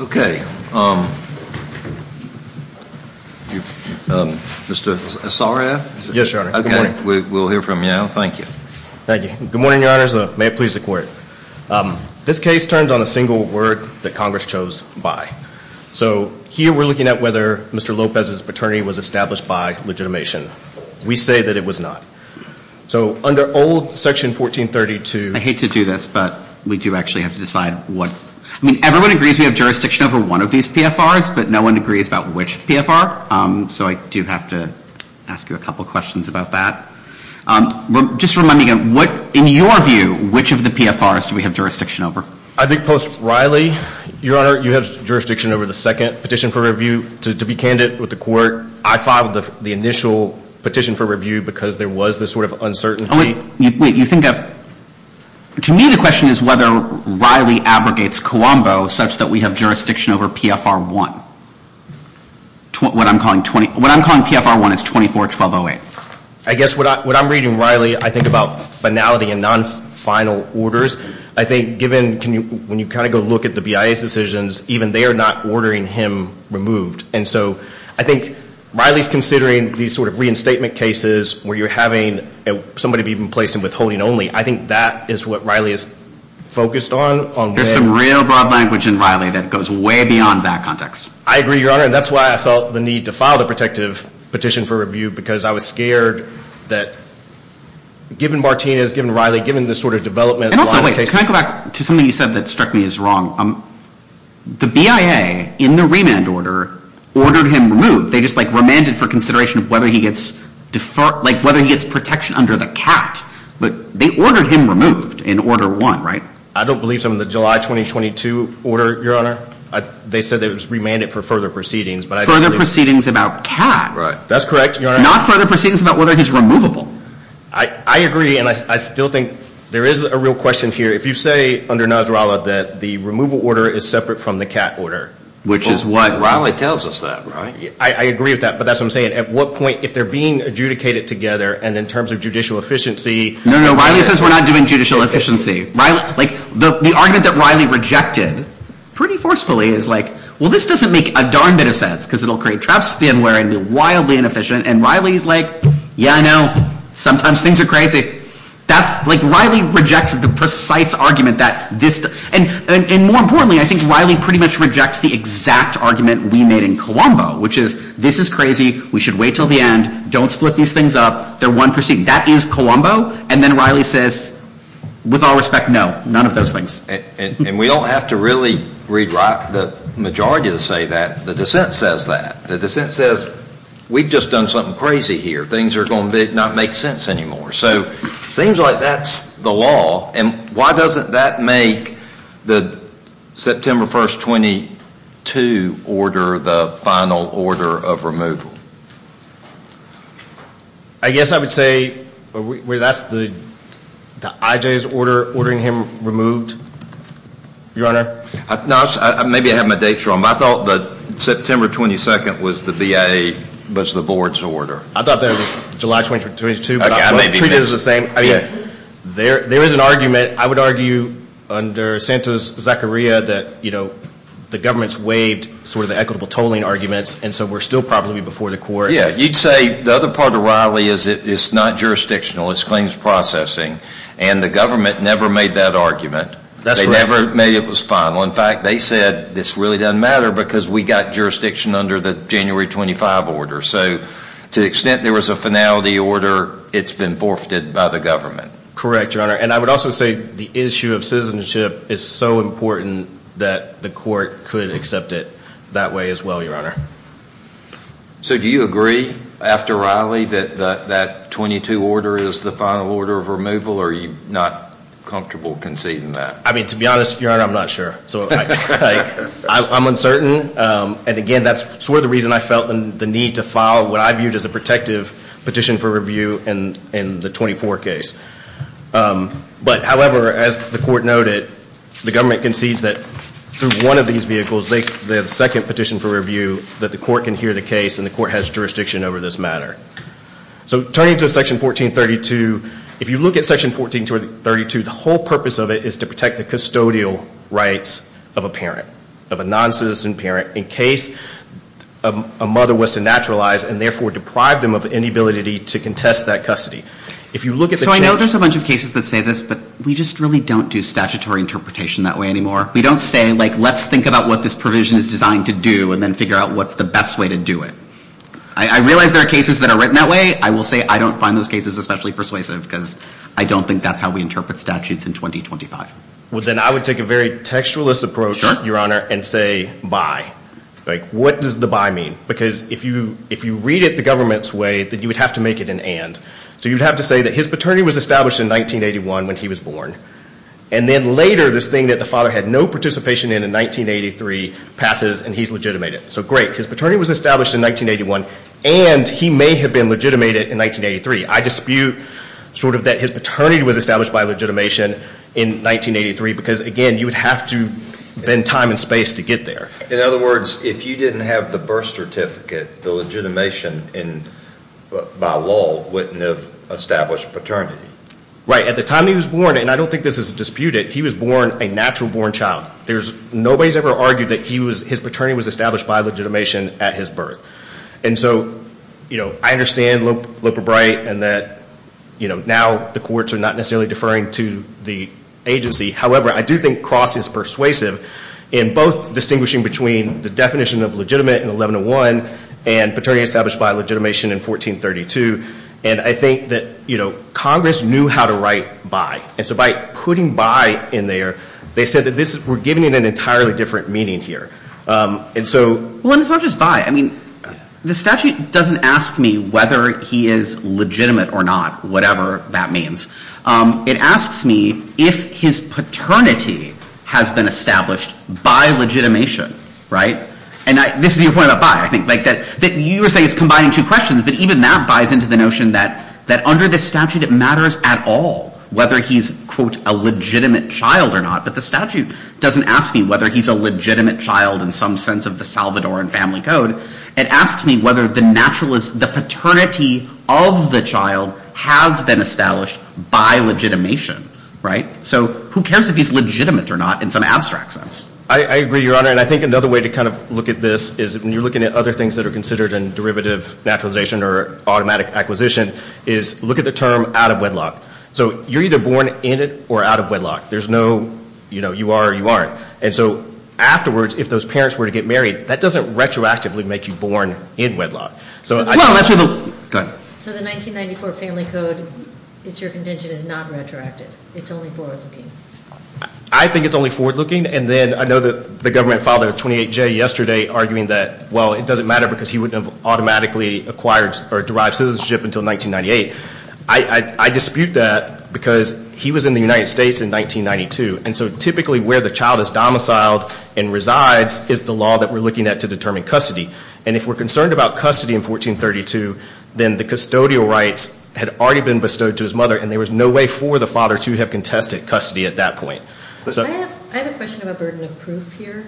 Okay. Mr. Asaraf? Yes, Your Honor. Okay. We'll hear from you now. Thank you. Thank you. Good morning, Your Honors. May it please the Court. This case turns on a single word that Congress chose, by. So here we're looking at whether Mr. Lopez's paternity was established by legitimation. We say that it was not. So under old section 1432 I hate to do this but we do actually have to decide what I mean, everyone agrees we have jurisdiction over one of these PFRs but no one agrees about which PFR. So I do have to ask you a couple questions about that. Just to remind me again, in your view, which of the PFRs do we have jurisdiction over? I think post Riley, Your Honor, you have jurisdiction over the second petition for review. To be candid with the Court, I filed the initial petition for review because there was this sort of uncertainty. To me the question is whether Riley abrogates Cuombo such that we have jurisdiction over PFR 1. What I'm calling PFR 1 is 24-1208. I guess what I'm reading, Riley, I think about finality and non-final orders. I think given, when you kind of go look at the BIA's decisions, even they are not ordering him removed. And so I think Riley's considering these sort of reinstatement cases where you're having somebody be placed in withholding only. I think that is what Riley is focused on. There's some real broad language in Riley that goes way beyond that context. I agree, Your Honor, and that's why I felt the need to file the protective petition for review because I was scared that given Martinez, given Riley, given the sort of development. And also, wait, can I go back to something you said that struck me as wrong? The BIA, in the remand order, ordered him removed. They just remanded for consideration of whether he gets protection under the CAT. They ordered him removed in Order 1, right? I don't believe so in the July 2022 order, Your Honor. They said it was remanded for further proceedings. Further proceedings about CAT. That's correct, Your Honor. Not further proceedings about whether he's removable. I agree, and I still think there is a real question here. If you say under Nasrallah that the removal order is separate from the CAT order. Which is what Riley tells us that, right? I agree with that, but that's what I'm saying. At what point, if they're being adjudicated together, and in terms of judicial efficiency. No, no, Riley says we're not doing judicial efficiency. The argument that Riley rejected pretty forcefully is like, well, this doesn't make a darn bit of sense because it will create traps to the end where it will be wildly inefficient. And Riley is like, yeah, I know. Sometimes things are crazy. Riley rejects the precise argument that this. And more importantly, I think Riley pretty much rejects the exact argument we made in Colombo. Which is, this is crazy. We should wait until the end. Don't split these things up. They're one proceeding. That is Colombo. And then Riley says, with all respect, no. None of those things. And we don't have to really rewrite the majority to say that. The dissent says that. The dissent says, we've just done something crazy here. Things are going to not make sense anymore. So it seems like that's the law. And why doesn't that make the September 1st, 22 order the final order of removal? I guess I would say that's the IJ's order ordering him removed, Your Honor. Maybe I have my dates wrong. I thought that September 22nd was the BIA, was the board's order. I thought that was July 22nd. There is an argument, I would argue, under Santos-Zacharia, that the government's waived sort of the equitable tolling arguments, and so we're still probably before the court. Yeah, you'd say the other part of Riley is it's not jurisdictional. It's claims processing. And the government never made that argument. They never made it was final. In fact, they said this really doesn't matter because we got jurisdiction under the January 25 order. So to the extent there was a finality order, it's been forfeited by the government. Correct, Your Honor. And I would also say the issue of citizenship is so important that the court could accept it that way as well, Your Honor. So do you agree after Riley that that 22 order is the final order of removal, or are you not comfortable conceding that? I mean, to be honest, Your Honor, I'm not sure. I'm uncertain. And, again, that's sort of the reason I felt the need to file what I viewed as a protective petition for review in the 24 case. But, however, as the court noted, the government concedes that through one of these vehicles, they have a second petition for review that the court can hear the case and the court has jurisdiction over this matter. So turning to Section 1432, if you look at Section 1432, the whole purpose of it is to protect the custodial rights of a parent, of a noncitizen parent, in case a mother was to naturalize and, therefore, deprive them of any ability to contest that custody. If you look at the change. So I know there's a bunch of cases that say this, but we just really don't do statutory interpretation that way anymore. We don't say, like, let's think about what this provision is designed to do and then figure out what's the best way to do it. I realize there are cases that are written that way. I will say I don't find those cases especially persuasive because I don't think that's how we interpret statutes in 2025. Well, then I would take a very textualist approach, Your Honor, and say by. Like, what does the by mean? Because if you read it the government's way, then you would have to make it an and. So you'd have to say that his paternity was established in 1981 when he was born. And then later, this thing that the father had no participation in in 1983 passes and he's legitimated. So great. His paternity was established in 1981 and he may have been legitimated in 1983. I dispute sort of that his paternity was established by legitimation in 1983 because, again, you would have to bend time and space to get there. In other words, if you didn't have the birth certificate, the legitimation by law wouldn't have established paternity. Right. At the time he was born, and I don't think this is disputed, he was born a natural-born child. Nobody's ever argued that his paternity was established by legitimation at his birth. And so, you know, I understand Looper Bright and that, you know, now the courts are not necessarily deferring to the agency. However, I do think Cross is persuasive in both distinguishing between the definition of legitimate in 1101 and paternity established by legitimation in 1432. And I think that, you know, Congress knew how to write by. And so by putting by in there, they said that we're giving it an entirely different meaning here. And so. Well, and it's not just by. I mean, the statute doesn't ask me whether he is legitimate or not, whatever that means. It asks me if his paternity has been established by legitimation. Right. And this is your point about by. You were saying it's combining two questions. But even that buys into the notion that under the statute it matters at all whether he's, quote, a legitimate child or not. But the statute doesn't ask me whether he's a legitimate child in some sense of the Salvadoran family code. It asks me whether the paternity of the child has been established by legitimation. Right. So who cares if he's legitimate or not in some abstract sense? I agree, Your Honor. And I think another way to kind of look at this is when you're looking at other things that are considered in derivative naturalization or automatic acquisition is look at the term out of wedlock. So you're either born in it or out of wedlock. There's no, you know, you are or you aren't. And so afterwards, if those parents were to get married, that doesn't retroactively make you born in wedlock. So I don't ask people. Go ahead. So the 1994 family code, it's your contention, is not retroactive. It's only forward-looking. I think it's only forward-looking. And then I know that the government filed a 28-J yesterday arguing that, well, it doesn't matter because he wouldn't have automatically acquired or derived citizenship until 1998. I dispute that because he was in the United States in 1992. And so typically where the child is domiciled and resides is the law that we're looking at to determine custody. And if we're concerned about custody in 1432, then the custodial rights had already been bestowed to his mother, and there was no way for the father to have contested custody at that point. I have a question about burden of proof here.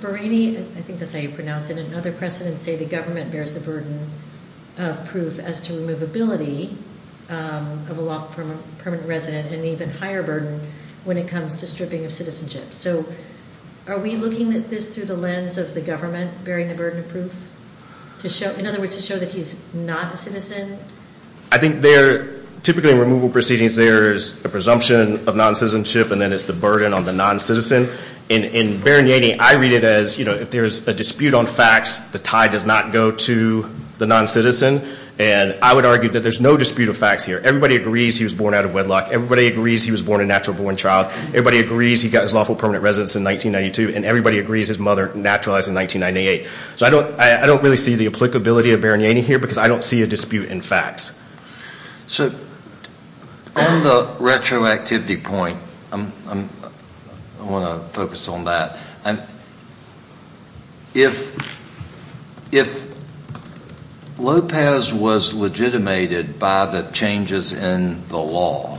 Barrani, I think that's how you pronounce it, and other precedents say the government bears the burden of proof as to removability of a lawful permanent resident and an even higher burden when it comes to stripping of citizenship. So are we looking at this through the lens of the government bearing the burden of proof? In other words, to show that he's not a citizen? I think they're typically removal proceedings, there's a presumption of noncitizenship, and then it's the burden on the noncitizen. In Barrani, I read it as, you know, if there's a dispute on facts, the tie does not go to the noncitizen. And I would argue that there's no dispute of facts here. Everybody agrees he was born out of wedlock. Everybody agrees he was born a natural-born child. Everybody agrees he got his lawful permanent residence in 1992. And everybody agrees his mother naturalized in 1998. So I don't really see the applicability of Barrani here because I don't see a dispute in facts. So on the retroactivity point, I want to focus on that. If Lopez was legitimated by the changes in the law,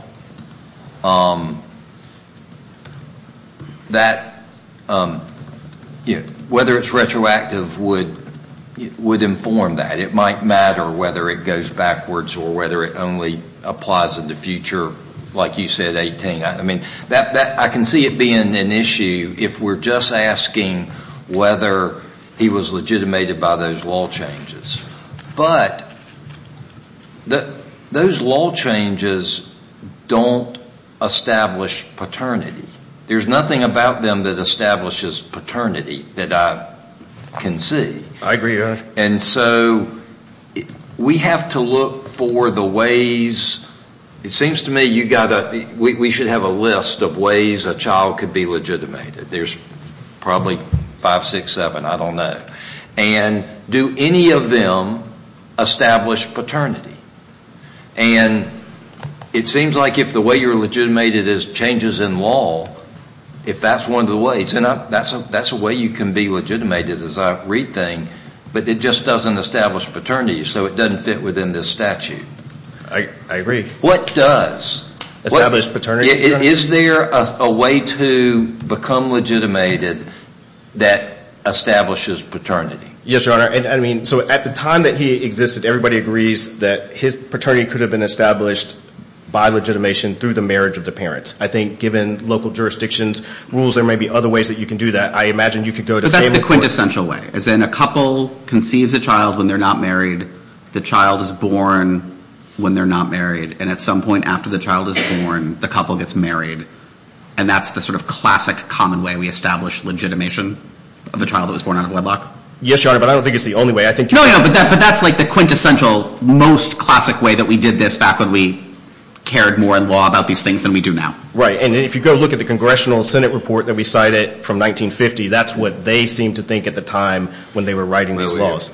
whether it's retroactive would inform that. It might matter whether it goes backwards or whether it only applies in the future, like you said, 18. I can see it being an issue if we're just asking whether he was legitimated by those law changes. But those law changes don't establish paternity. There's nothing about them that establishes paternity that I can see. I agree, Your Honor. And so we have to look for the ways. It seems to me we should have a list of ways a child could be legitimated. There's probably five, six, seven. I don't know. And do any of them establish paternity? And it seems like if the way you're legitimated is changes in law, if that's one of the ways, that's a way you can be legitimated, as I rethink, but it just doesn't establish paternity. So it doesn't fit within this statute. I agree. What does? Establish paternity, Your Honor. Is there a way to become legitimated that establishes paternity? Yes, Your Honor. So at the time that he existed, everybody agrees that his paternity could have been established by legitimation through the marriage of the parents. I think given local jurisdictions' rules, there may be other ways that you can do that. I imagine you could go to able courts. But that's the quintessential way, as in a couple conceives a child when they're not married. The child is born when they're not married. And at some point after the child is born, the couple gets married. And that's the sort of classic common way we establish legitimation of a child that was born out of wedlock. Yes, Your Honor, but I don't think it's the only way. No, but that's like the quintessential most classic way that we did this back when we cared more in law about these things than we do now. Right. And if you go look at the Congressional Senate report that we cited from 1950, that's what they seemed to think at the time when they were writing these laws.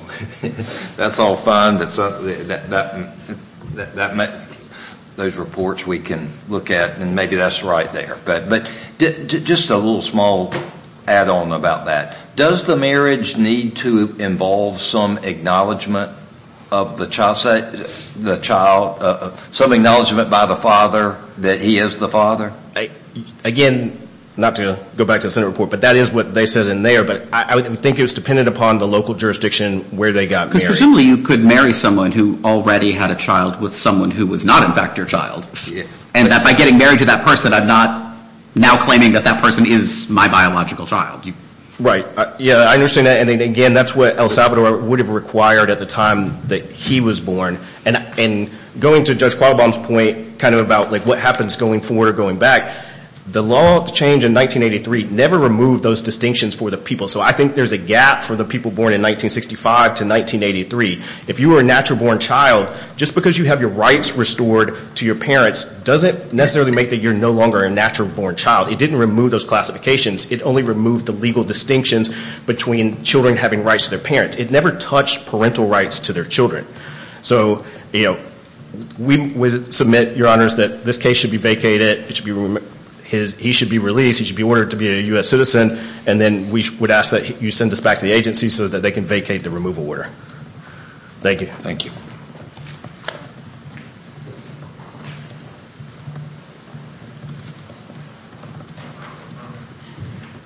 That's all fine, but those reports we can look at, and maybe that's right there. But just a little small add-on about that. Does the marriage need to involve some acknowledgment of the child, some acknowledgment by the father that he is the father? Again, not to go back to the Senate report, but that is what they said in there. But I think it was dependent upon the local jurisdiction where they got married. Because presumably you could marry someone who already had a child with someone who was not in fact your child. And by getting married to that person, I'm not now claiming that that person is my biological child. Right. Yeah, I understand that. And again, that's what El Salvador would have required at the time that he was born. And going to Judge Qualbom's point kind of about what happens going forward or going back, the law change in 1983 never removed those distinctions for the people. So I think there's a gap for the people born in 1965 to 1983. If you were a natural-born child, just because you have your rights restored to your parents doesn't necessarily make that you're no longer a natural-born child. It didn't remove those classifications. It only removed the legal distinctions between children having rights to their parents. It never touched parental rights to their children. So we submit, Your Honors, that this case should be vacated. He should be released. He should be ordered to be a U.S. citizen. And then we would ask that you send this back to the agency so that they can vacate the removal order. Thank you. Thank you.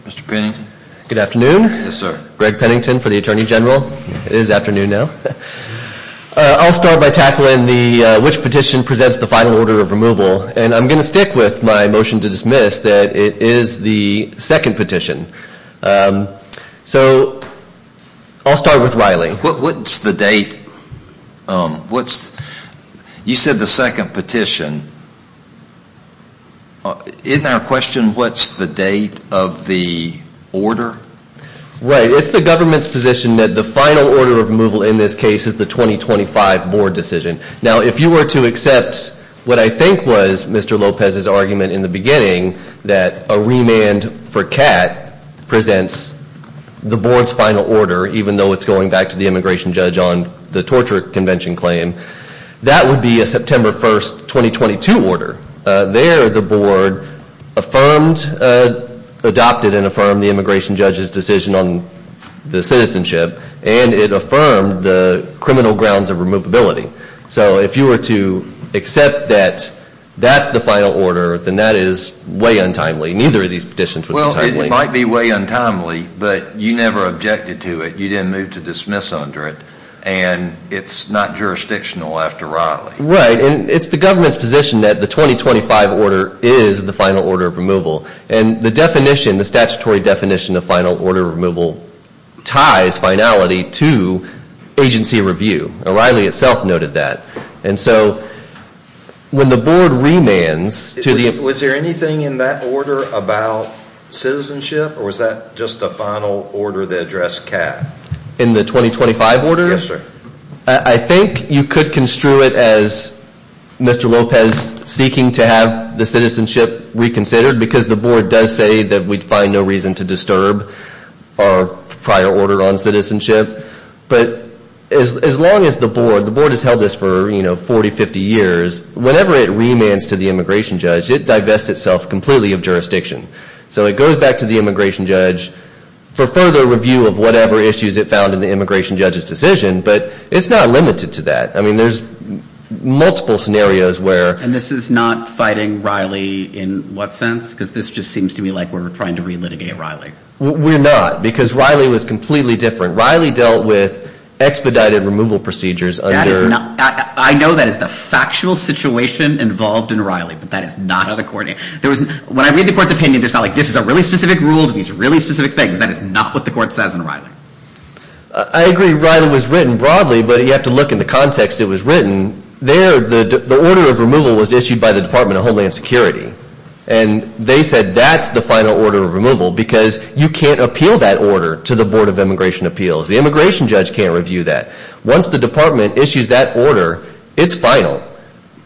Mr. Pennington. Good afternoon. Yes, sir. Greg Pennington for the Attorney General. It is afternoon now. I'll start by tackling which petition presents the final order of removal. And I'm going to stick with my motion to dismiss that it is the second petition. So I'll start with Riley. What's the date? What's the – you said the second petition. In our question, what's the date of the order? Right. It's the government's position that the final order of removal in this case is the 2025 board decision. Now, if you were to accept what I think was Mr. Lopez's argument in the beginning, that a remand for Catt presents the board's final order, even though it's going back to the immigration judge on the torture convention claim, that would be a September 1, 2022 order. There the board affirmed, adopted, and affirmed the immigration judge's decision on the citizenship, and it affirmed the criminal grounds of removability. So if you were to accept that that's the final order, then that is way untimely. Neither of these petitions was untimely. Well, it might be way untimely, but you never objected to it. You didn't move to dismiss under it. And it's not jurisdictional after Riley. Right, and it's the government's position that the 2025 order is the final order of removal. And the definition, the statutory definition of final order of removal ties finality to agency review. Riley itself noted that. And so when the board remands to the – Was there anything in that order about citizenship, or was that just a final order that addressed Catt? In the 2025 order? Yes, sir. I think you could construe it as Mr. Lopez seeking to have the citizenship reconsidered, because the board does say that we'd find no reason to disturb our prior order on citizenship. But as long as the board – the board has held this for, you know, 40, 50 years. Whenever it remands to the immigration judge, it divests itself completely of jurisdiction. So it goes back to the immigration judge for further review of whatever issues it found in the immigration judge's decision. But it's not limited to that. I mean, there's multiple scenarios where – And this is not fighting Riley in what sense? Because this just seems to me like we're trying to relitigate Riley. We're not, because Riley was completely different. Riley dealt with expedited removal procedures under – I know that is the factual situation involved in Riley, but that is not under court. When I read the court's opinion, there's not like this is a really specific rule to these really specific things. That is not what the court says in Riley. I agree Riley was written broadly, but you have to look in the context it was written. There, the order of removal was issued by the Department of Homeland Security. And they said that's the final order of removal, because you can't appeal that order to the Board of Immigration Appeals. The immigration judge can't review that. Once the department issues that order, it's final.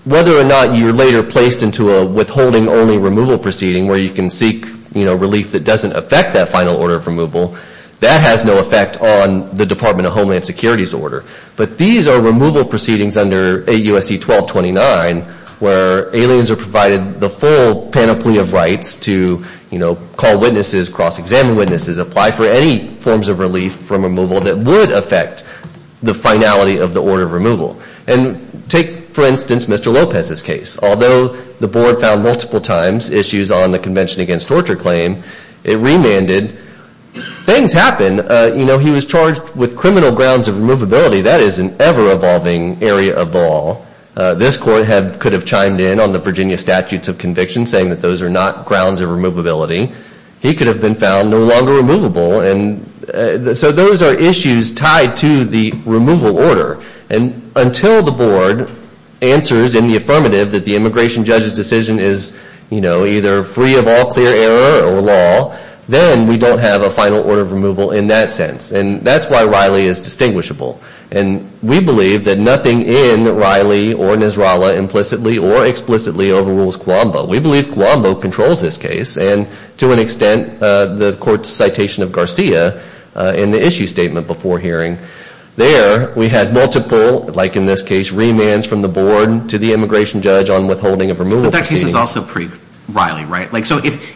Whether or not you're later placed into a withholding-only removal proceeding where you can seek relief that doesn't affect that final order of removal, that has no effect on the Department of Homeland Security's order. But these are removal proceedings under 8 U.S.C. 1229 where aliens are provided the full panoply of rights to call witnesses, cross-examine witnesses, apply for any forms of relief from removal that would affect the finality of the order of removal. And take, for instance, Mr. Lopez's case. Although the board found multiple times issues on the Convention Against Torture claim, it remanded. Things happen. You know, he was charged with criminal grounds of removability. That is an ever-evolving area of law. This court could have chimed in on the Virginia statutes of conviction saying that those are not grounds of removability. He could have been found no longer removable. So those are issues tied to the removal order. And until the board answers in the affirmative that the immigration judge's decision is, you know, either free of all clear error or law, then we don't have a final order of removal in that sense. And that's why Riley is distinguishable. And we believe that nothing in Riley or Nasrallah implicitly or explicitly overrules Cuombo. We believe Cuombo controls this case. And to an extent, the court's citation of Garcia in the issue statement before hearing, there we had multiple, like in this case, remands from the board to the immigration judge on withholding of removal proceedings. But that case is also pre-Riley, right? Like, so if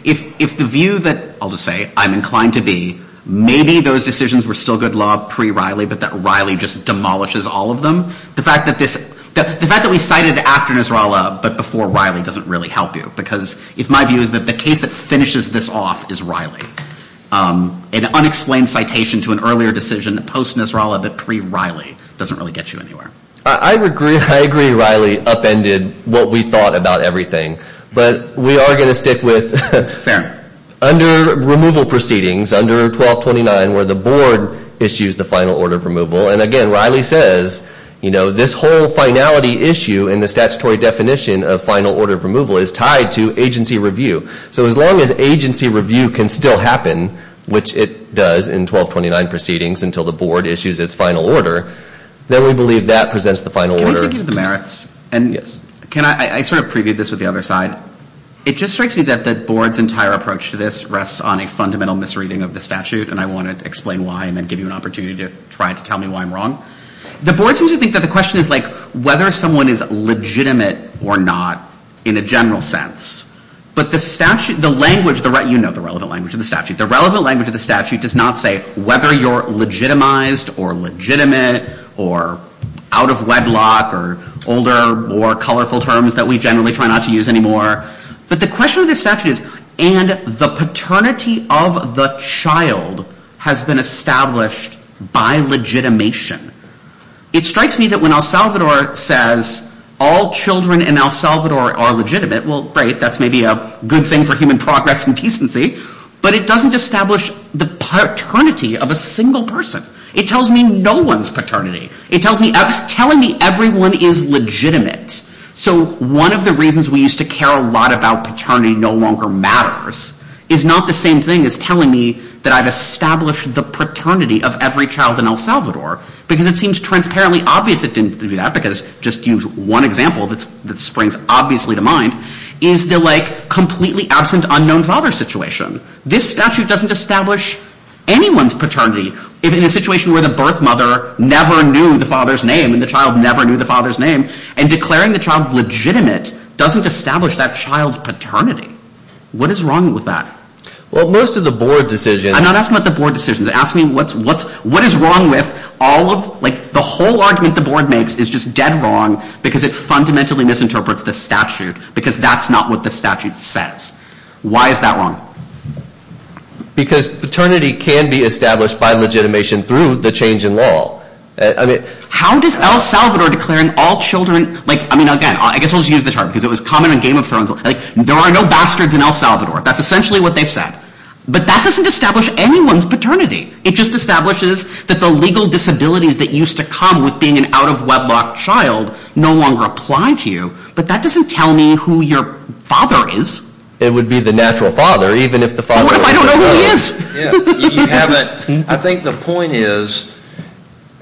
the view that, I'll just say, I'm inclined to be, maybe those decisions were still good law pre-Riley, but that Riley just demolishes all of them, the fact that we cited after Nasrallah but before Riley doesn't really help you. Because if my view is that the case that finishes this off is Riley, an unexplained citation to an earlier decision post-Nasrallah but pre-Riley doesn't really get you anywhere. I agree Riley upended what we thought about everything. But we are going to stick with under removal proceedings, under 1229, where the board issues the final order of removal. And again, Riley says, you know, this whole finality issue and the statutory definition of final order of removal is tied to agency review. So as long as agency review can still happen, which it does in 1229 proceedings until the board issues its final order, then we believe that presents the final order. Can I take you to the merits? Yes. I sort of previewed this with the other side. It just strikes me that the board's entire approach to this rests on a fundamental misreading of the statute. And I want to explain why and then give you an opportunity to try to tell me why I'm wrong. The board seems to think that the question is, like, whether someone is legitimate or not in a general sense. But the statute, the language, you know the relevant language of the statute. The relevant language of the statute does not say whether you're legitimized or legitimate or out of wedlock or older, more colorful terms that we generally try not to use anymore. But the question of the statute is, and the paternity of the child has been established by legitimation. It strikes me that when El Salvador says all children in El Salvador are legitimate, well, great, that's maybe a good thing for human progress and decency. But it doesn't establish the paternity of a single person. It tells me no one's paternity. It tells me, telling me everyone is legitimate. So one of the reasons we used to care a lot about paternity no longer matters is not the same thing as telling me that I've established the paternity of every child in El Salvador because it seems transparently obvious it didn't do that because just use one example that springs obviously to mind is the like completely absent unknown father situation. This statute doesn't establish anyone's paternity. If in a situation where the birth mother never knew the father's name and the child never knew the father's name and declaring the child legitimate doesn't establish that child's paternity. What is wrong with that? Well, most of the board decisions... I'm not asking about the board decisions. I'm asking what is wrong with all of... The whole argument the board makes is just dead wrong because it fundamentally misinterprets the statute because that's not what the statute says. Why is that wrong? Because paternity can be established by legitimation through the change in law. How does El Salvador declaring all children... I mean, again, I guess we'll just use the term because it was common in Game of Thrones. There are no bastards in El Salvador. That's essentially what they've said. But that doesn't establish anyone's paternity. It just establishes that the legal disabilities that used to come with being an out-of-weblock child no longer apply to you. But that doesn't tell me who your father is. It would be the natural father even if the father... What if I don't know who he is? You haven't... I think the point is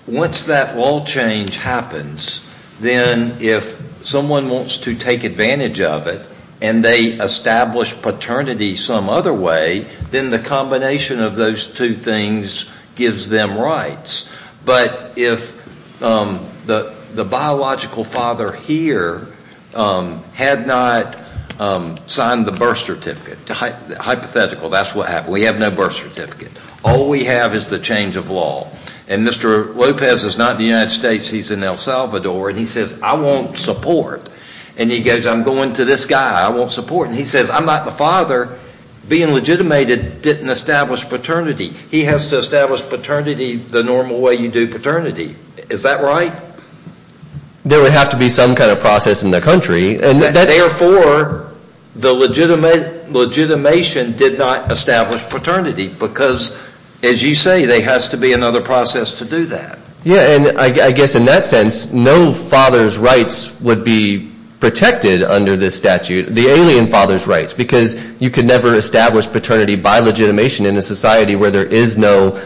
once that law change happens, then if someone wants to take advantage of it and they establish paternity some other way, then the combination of those two things gives them rights. But if the biological father here had not signed the birth certificate, hypothetical, that's what happened. We have no birth certificate. All we have is the change of law. And Mr. Lopez is not in the United States. He's in El Salvador. And he says, I want support. And he goes, I'm going to this guy. I want support. And he says, I'm not the father. Being legitimated didn't establish paternity. He has to establish paternity the normal way you do paternity. Is that right? There would have to be some kind of process in the country. Therefore, the legitimation did not establish paternity because, as you say, there has to be another process to do that. Yeah, and I guess in that sense, no father's rights would be protected under this statute, the alien father's rights, because you could never establish paternity by legitimation in a society where there is no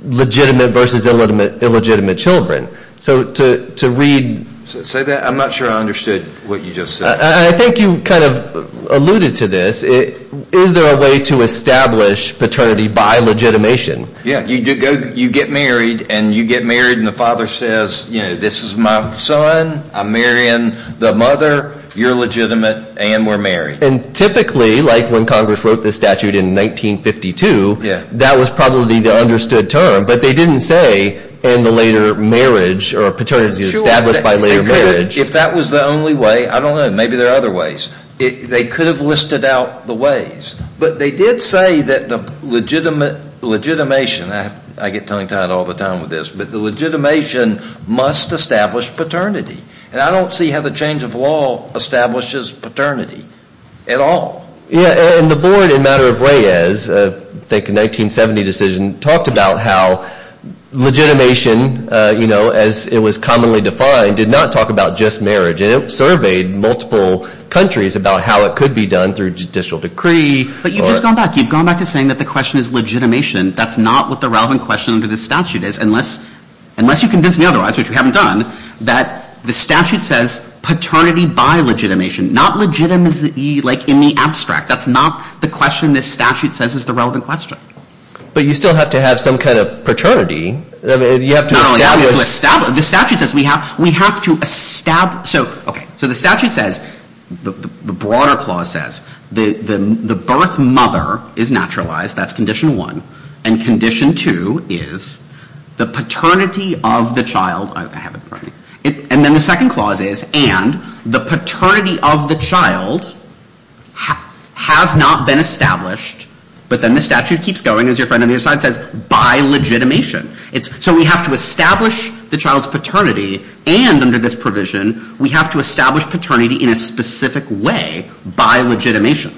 legitimate versus illegitimate children. So to read – Say that? I'm not sure I understood what you just said. I think you kind of alluded to this. Is there a way to establish paternity by legitimation? Yeah, you get married, and you get married, and the father says, you know, this is my son. I'm marrying the mother. You're legitimate, and we're married. And typically, like when Congress wrote this statute in 1952, that was probably the understood term, but they didn't say in the later marriage or paternity established by later marriage. If that was the only way, I don't know. Maybe there are other ways. They could have listed out the ways. But they did say that the legitimation – I get tongue-tied all the time with this – but the legitimation must establish paternity. And I don't see how the change of law establishes paternity at all. Yeah, and the board in Matter of Ways, I think a 1970 decision, talked about how legitimation, you know, as it was commonly defined, did not talk about just marriage. And it surveyed multiple countries about how it could be done through judicial decree. But you've just gone back. You've gone back to saying that the question is legitimation. That's not what the relevant question under this statute is, unless you convince me otherwise, which we haven't done, that the statute says paternity by legitimation, not legitimacy, like, in the abstract. That's not the question this statute says is the relevant question. But you still have to have some kind of paternity. I mean, you have to establish – Not only have to establish. The statute says we have to establish – So, okay. So the statute says, the broader clause says, the birth mother is naturalized. That's condition one. And condition two is the paternity of the child – And then the second clause is, and the paternity of the child has not been established. But then the statute keeps going, as your friend on the other side says, by legitimation. So we have to establish the child's paternity and under this provision, we have to establish paternity in a specific way by legitimation.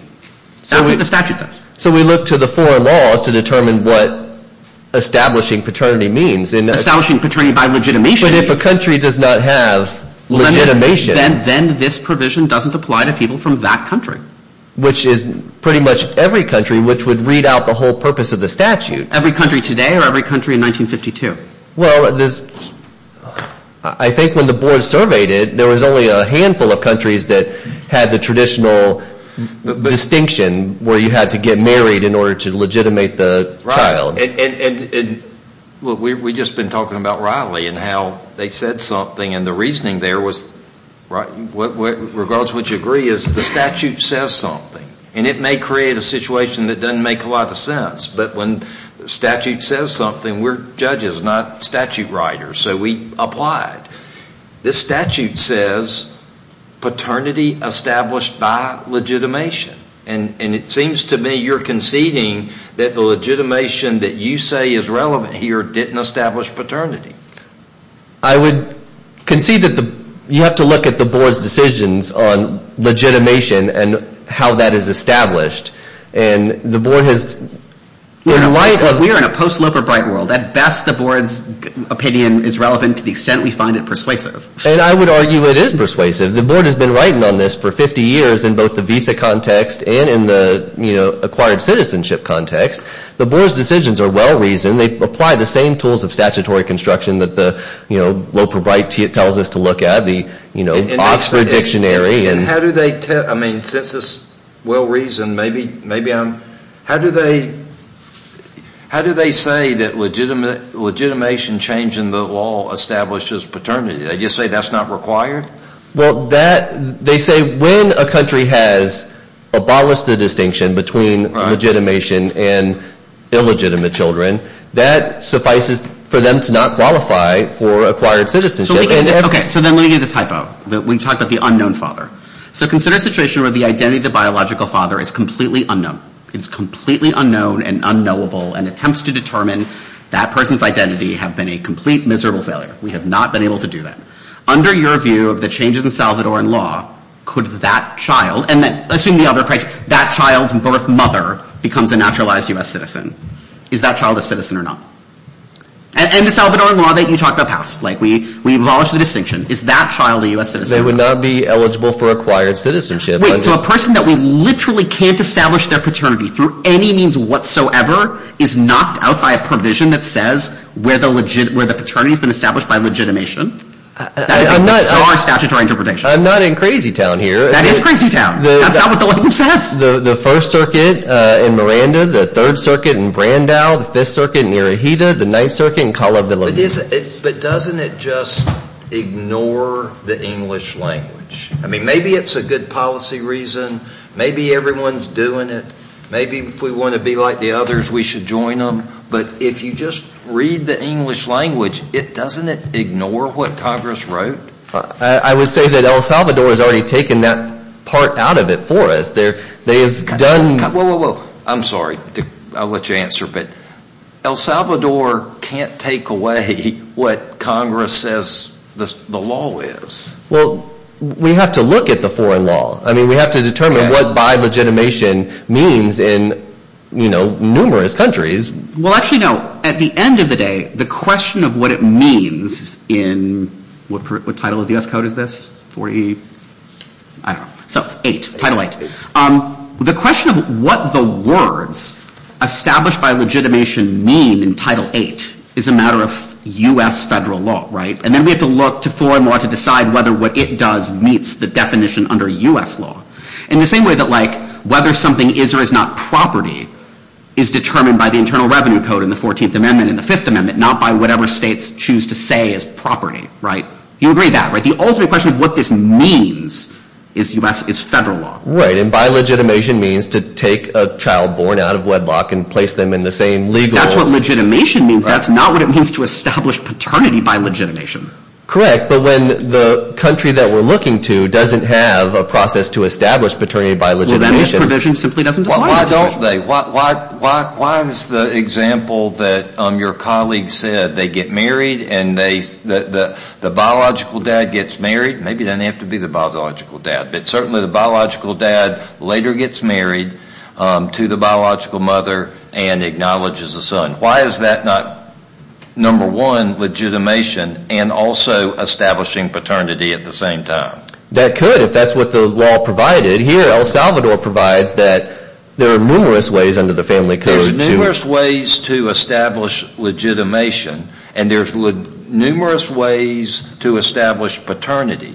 That's what the statute says. So we look to the four laws to determine what establishing paternity means. Establishing paternity by legitimation means – But if a country does not have legitimation – Then this provision doesn't apply to people from that country. Which is pretty much every country, which would read out the whole purpose of the statute. Every country today or every country in 1952? Well, I think when the board surveyed it, there was only a handful of countries that had the traditional distinction where you had to get married in order to legitimate the child. Right. And look, we've just been talking about Riley and how they said something. And the reasoning there was, regardless of what you agree, is the statute says something. And it may create a situation that doesn't make a lot of sense. But when the statute says something, we're judges, not statute writers. So we applied. This statute says paternity established by legitimation. And it seems to me you're conceding that the legitimation that you say is relevant here didn't establish paternity. I would concede that you have to look at the board's decisions on legitimation and how that is established. We're in a post-Loper Bright world. At best, the board's opinion is relevant to the extent we find it persuasive. And I would argue it is persuasive. The board has been writing on this for 50 years in both the visa context and in the acquired citizenship context. The board's decisions are well-reasoned. They apply the same tools of statutory construction that the Loper Bright tells us to look at, the Oxford Dictionary. I mean, since it's well-reasoned, maybe I'm – how do they say that legitimation change in the law establishes paternity? They just say that's not required? Well, they say when a country has abolished the distinction between legitimation and illegitimate children, that suffices for them to not qualify for acquired citizenship. Okay, so then let me give you this hypo. We've talked about the unknown father. So consider a situation where the identity of the biological father is completely unknown. It's completely unknown and unknowable, and attempts to determine that person's identity have been a complete, miserable failure. We have not been able to do that. Under your view of the changes in Salvadoran law, could that child – and assume the other – that child's birth mother becomes a naturalized U.S. citizen. Is that child a citizen or not? And the Salvadoran law that you talked about passed. Like, we abolished the distinction. Is that child a U.S. citizen? They would not be eligible for acquired citizenship. Wait, so a person that we literally can't establish their paternity through any means whatsoever is knocked out by a provision that says where the paternity has been established by legitimation? That is a bizarre statutory interpretation. I'm not in crazy town here. That is crazy town. That's not what the legislation says. The First Circuit in Miranda, the Third Circuit in Brandau, the Fifth Circuit in Irohita, the Ninth Circuit in Cala de Leon. But doesn't it just ignore the English language? I mean, maybe it's a good policy reason. Maybe everyone's doing it. Maybe if we want to be like the others, we should join them. But if you just read the English language, doesn't it ignore what Congress wrote? I would say that El Salvador has already taken that part out of it for us. They have done – Whoa, whoa, whoa. I'm sorry. I'll let you answer. But El Salvador can't take away what Congress says the law is. Well, we have to look at the foreign law. I mean, we have to determine what bi-legitimation means in numerous countries. Well, actually, no. At the end of the day, the question of what it means in – what title of the U.S. Code is this? 40 – I don't know. So, 8. Title 8. The question of what the words established by legitimation mean in Title 8 is a matter of U.S. federal law, right? And then we have to look to foreign law to decide whether what it does meets the definition under U.S. law. In the same way that, like, whether something is or is not property is determined by the Internal Revenue Code in the 14th Amendment and the 5th Amendment, not by whatever states choose to say is property, right? You agree with that, right? The ultimate question of what this means is U.S. – is federal law. Right. And bi-legitimation means to take a child born out of wedlock and place them in the same legal – That's what legitimation means. That's not what it means to establish paternity by legitimation. Correct. But when the country that we're looking to doesn't have a process to establish paternity by legitimation – Well, then this provision simply doesn't apply. Well, why don't they? Why is the example that your colleague said they get married and the biological dad gets married? Maybe it doesn't have to be the biological dad. But certainly the biological dad later gets married to the biological mother and acknowledges the son. Why is that not, number one, legitimation and also establishing paternity at the same time? That could if that's what the law provided. Here, El Salvador provides that there are numerous ways under the family code to – There's numerous ways to establish legitimation, and there's numerous ways to establish paternity.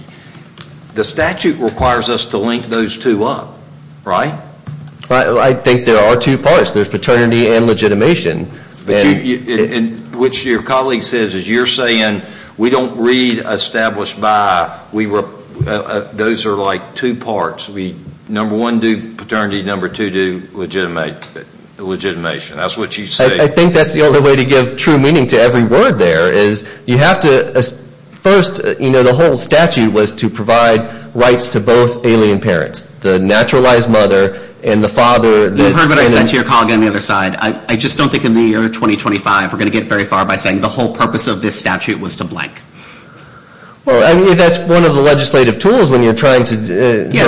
The statute requires us to link those two up, right? I think there are two parts. There's paternity and legitimation. Which your colleague says is you're saying we don't read established by. Those are like two parts. Number one, do paternity. Number two, do legitimation. That's what you say. I think that's the only way to give true meaning to every word there is you have to – first, you know, the whole statute was to provide rights to both alien parents, the naturalized mother and the father. You heard what I said to your colleague on the other side. I just don't think in the year 2025 we're going to get very far by saying the whole purpose of this statute was to blank. Well, I mean, if that's one of the legislative tools when you're trying to – Yes,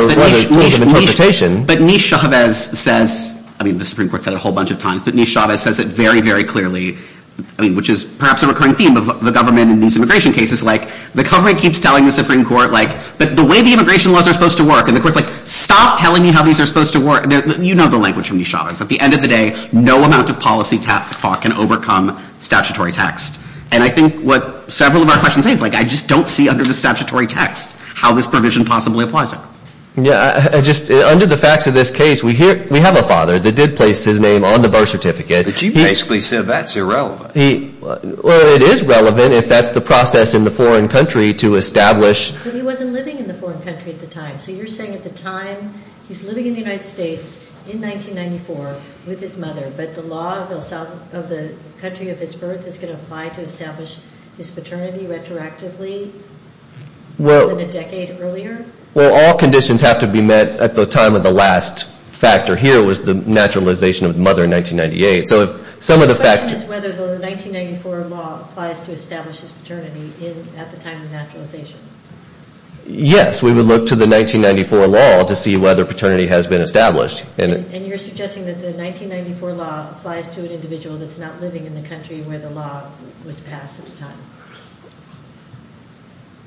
but Nish Chavez says – I mean, the Supreme Court said it a whole bunch of times. But Nish Chavez says it very, very clearly, I mean, which is perhaps a recurring theme of the government in these immigration cases. Like, the government keeps telling the Supreme Court, like, but the way the immigration laws are supposed to work. And the Court's like, stop telling me how these are supposed to work. You know the language from Nish Chavez. At the end of the day, no amount of policy talk can overcome statutory text. And I think what several of our questions say is, like, I just don't see under the statutory text how this provision possibly applies there. Yeah, I just – under the facts of this case, we have a father that did place his name on the birth certificate. But you basically said that's irrelevant. Well, it is relevant if that's the process in the foreign country to establish – But he wasn't living in the foreign country at the time. So you're saying at the time he's living in the United States in 1994 with his mother, but the law of the country of his birth is going to apply to establish his paternity retroactively more than a decade earlier? Well, all conditions have to be met at the time of the last factor. Here was the naturalization of the mother in 1998. So if some of the – The question is whether the 1994 law applies to establish his paternity at the time of naturalization. Yes, we would look to the 1994 law to see whether paternity has been established. And you're suggesting that the 1994 law applies to an individual that's not living in the country where the law was passed at the time?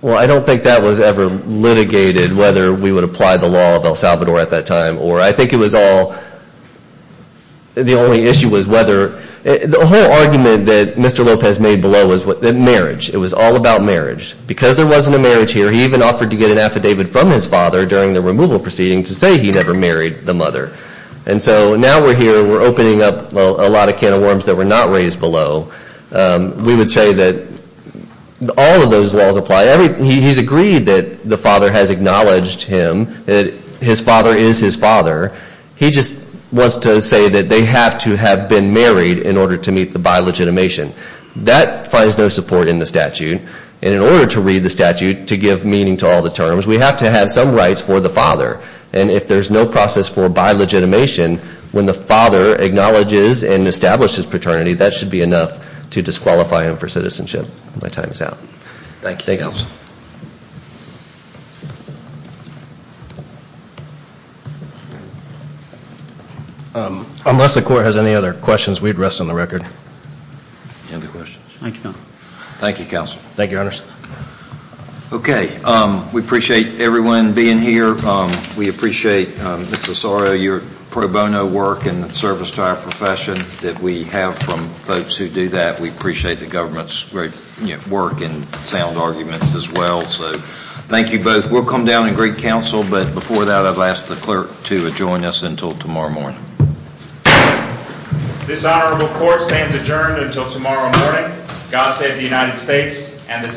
Well, I don't think that was ever litigated, whether we would apply the law of El Salvador at that time, or I think it was all – the only issue was whether – The whole argument that Mr. Lopez made below was marriage. It was all about marriage. Because there wasn't a marriage here, he even offered to get an affidavit from his father during the removal proceeding to say he never married the mother. And so now we're here, we're opening up a lot of can of worms that were not raised below. We would say that all of those laws apply. He's agreed that the father has acknowledged him, that his father is his father. He just wants to say that they have to have been married in order to meet the bi-legitimation. That finds no support in the statute. And in order to read the statute to give meaning to all the terms, we have to have some rights for the father. And if there's no process for bi-legitimation, when the father acknowledges and establishes paternity, that should be enough to disqualify him for citizenship. My time is out. Thank you. Thank you, Counsel. Unless the Court has any other questions, we'd rest on the record. Any other questions? Thank you, Counsel. Thank you, Counsel. Thank you, Your Honors. Okay. We appreciate everyone being here. We appreciate, Mr. Osorio, your pro bono work and service to our profession that we have from folks who do that. We appreciate the government's great work and sound arguments as well. So thank you both. We'll come down and greet Counsel. But before that, I've asked the Clerk to join us until tomorrow morning. This honorable Court stands adjourned until tomorrow morning. God save the United States and this honorable Court.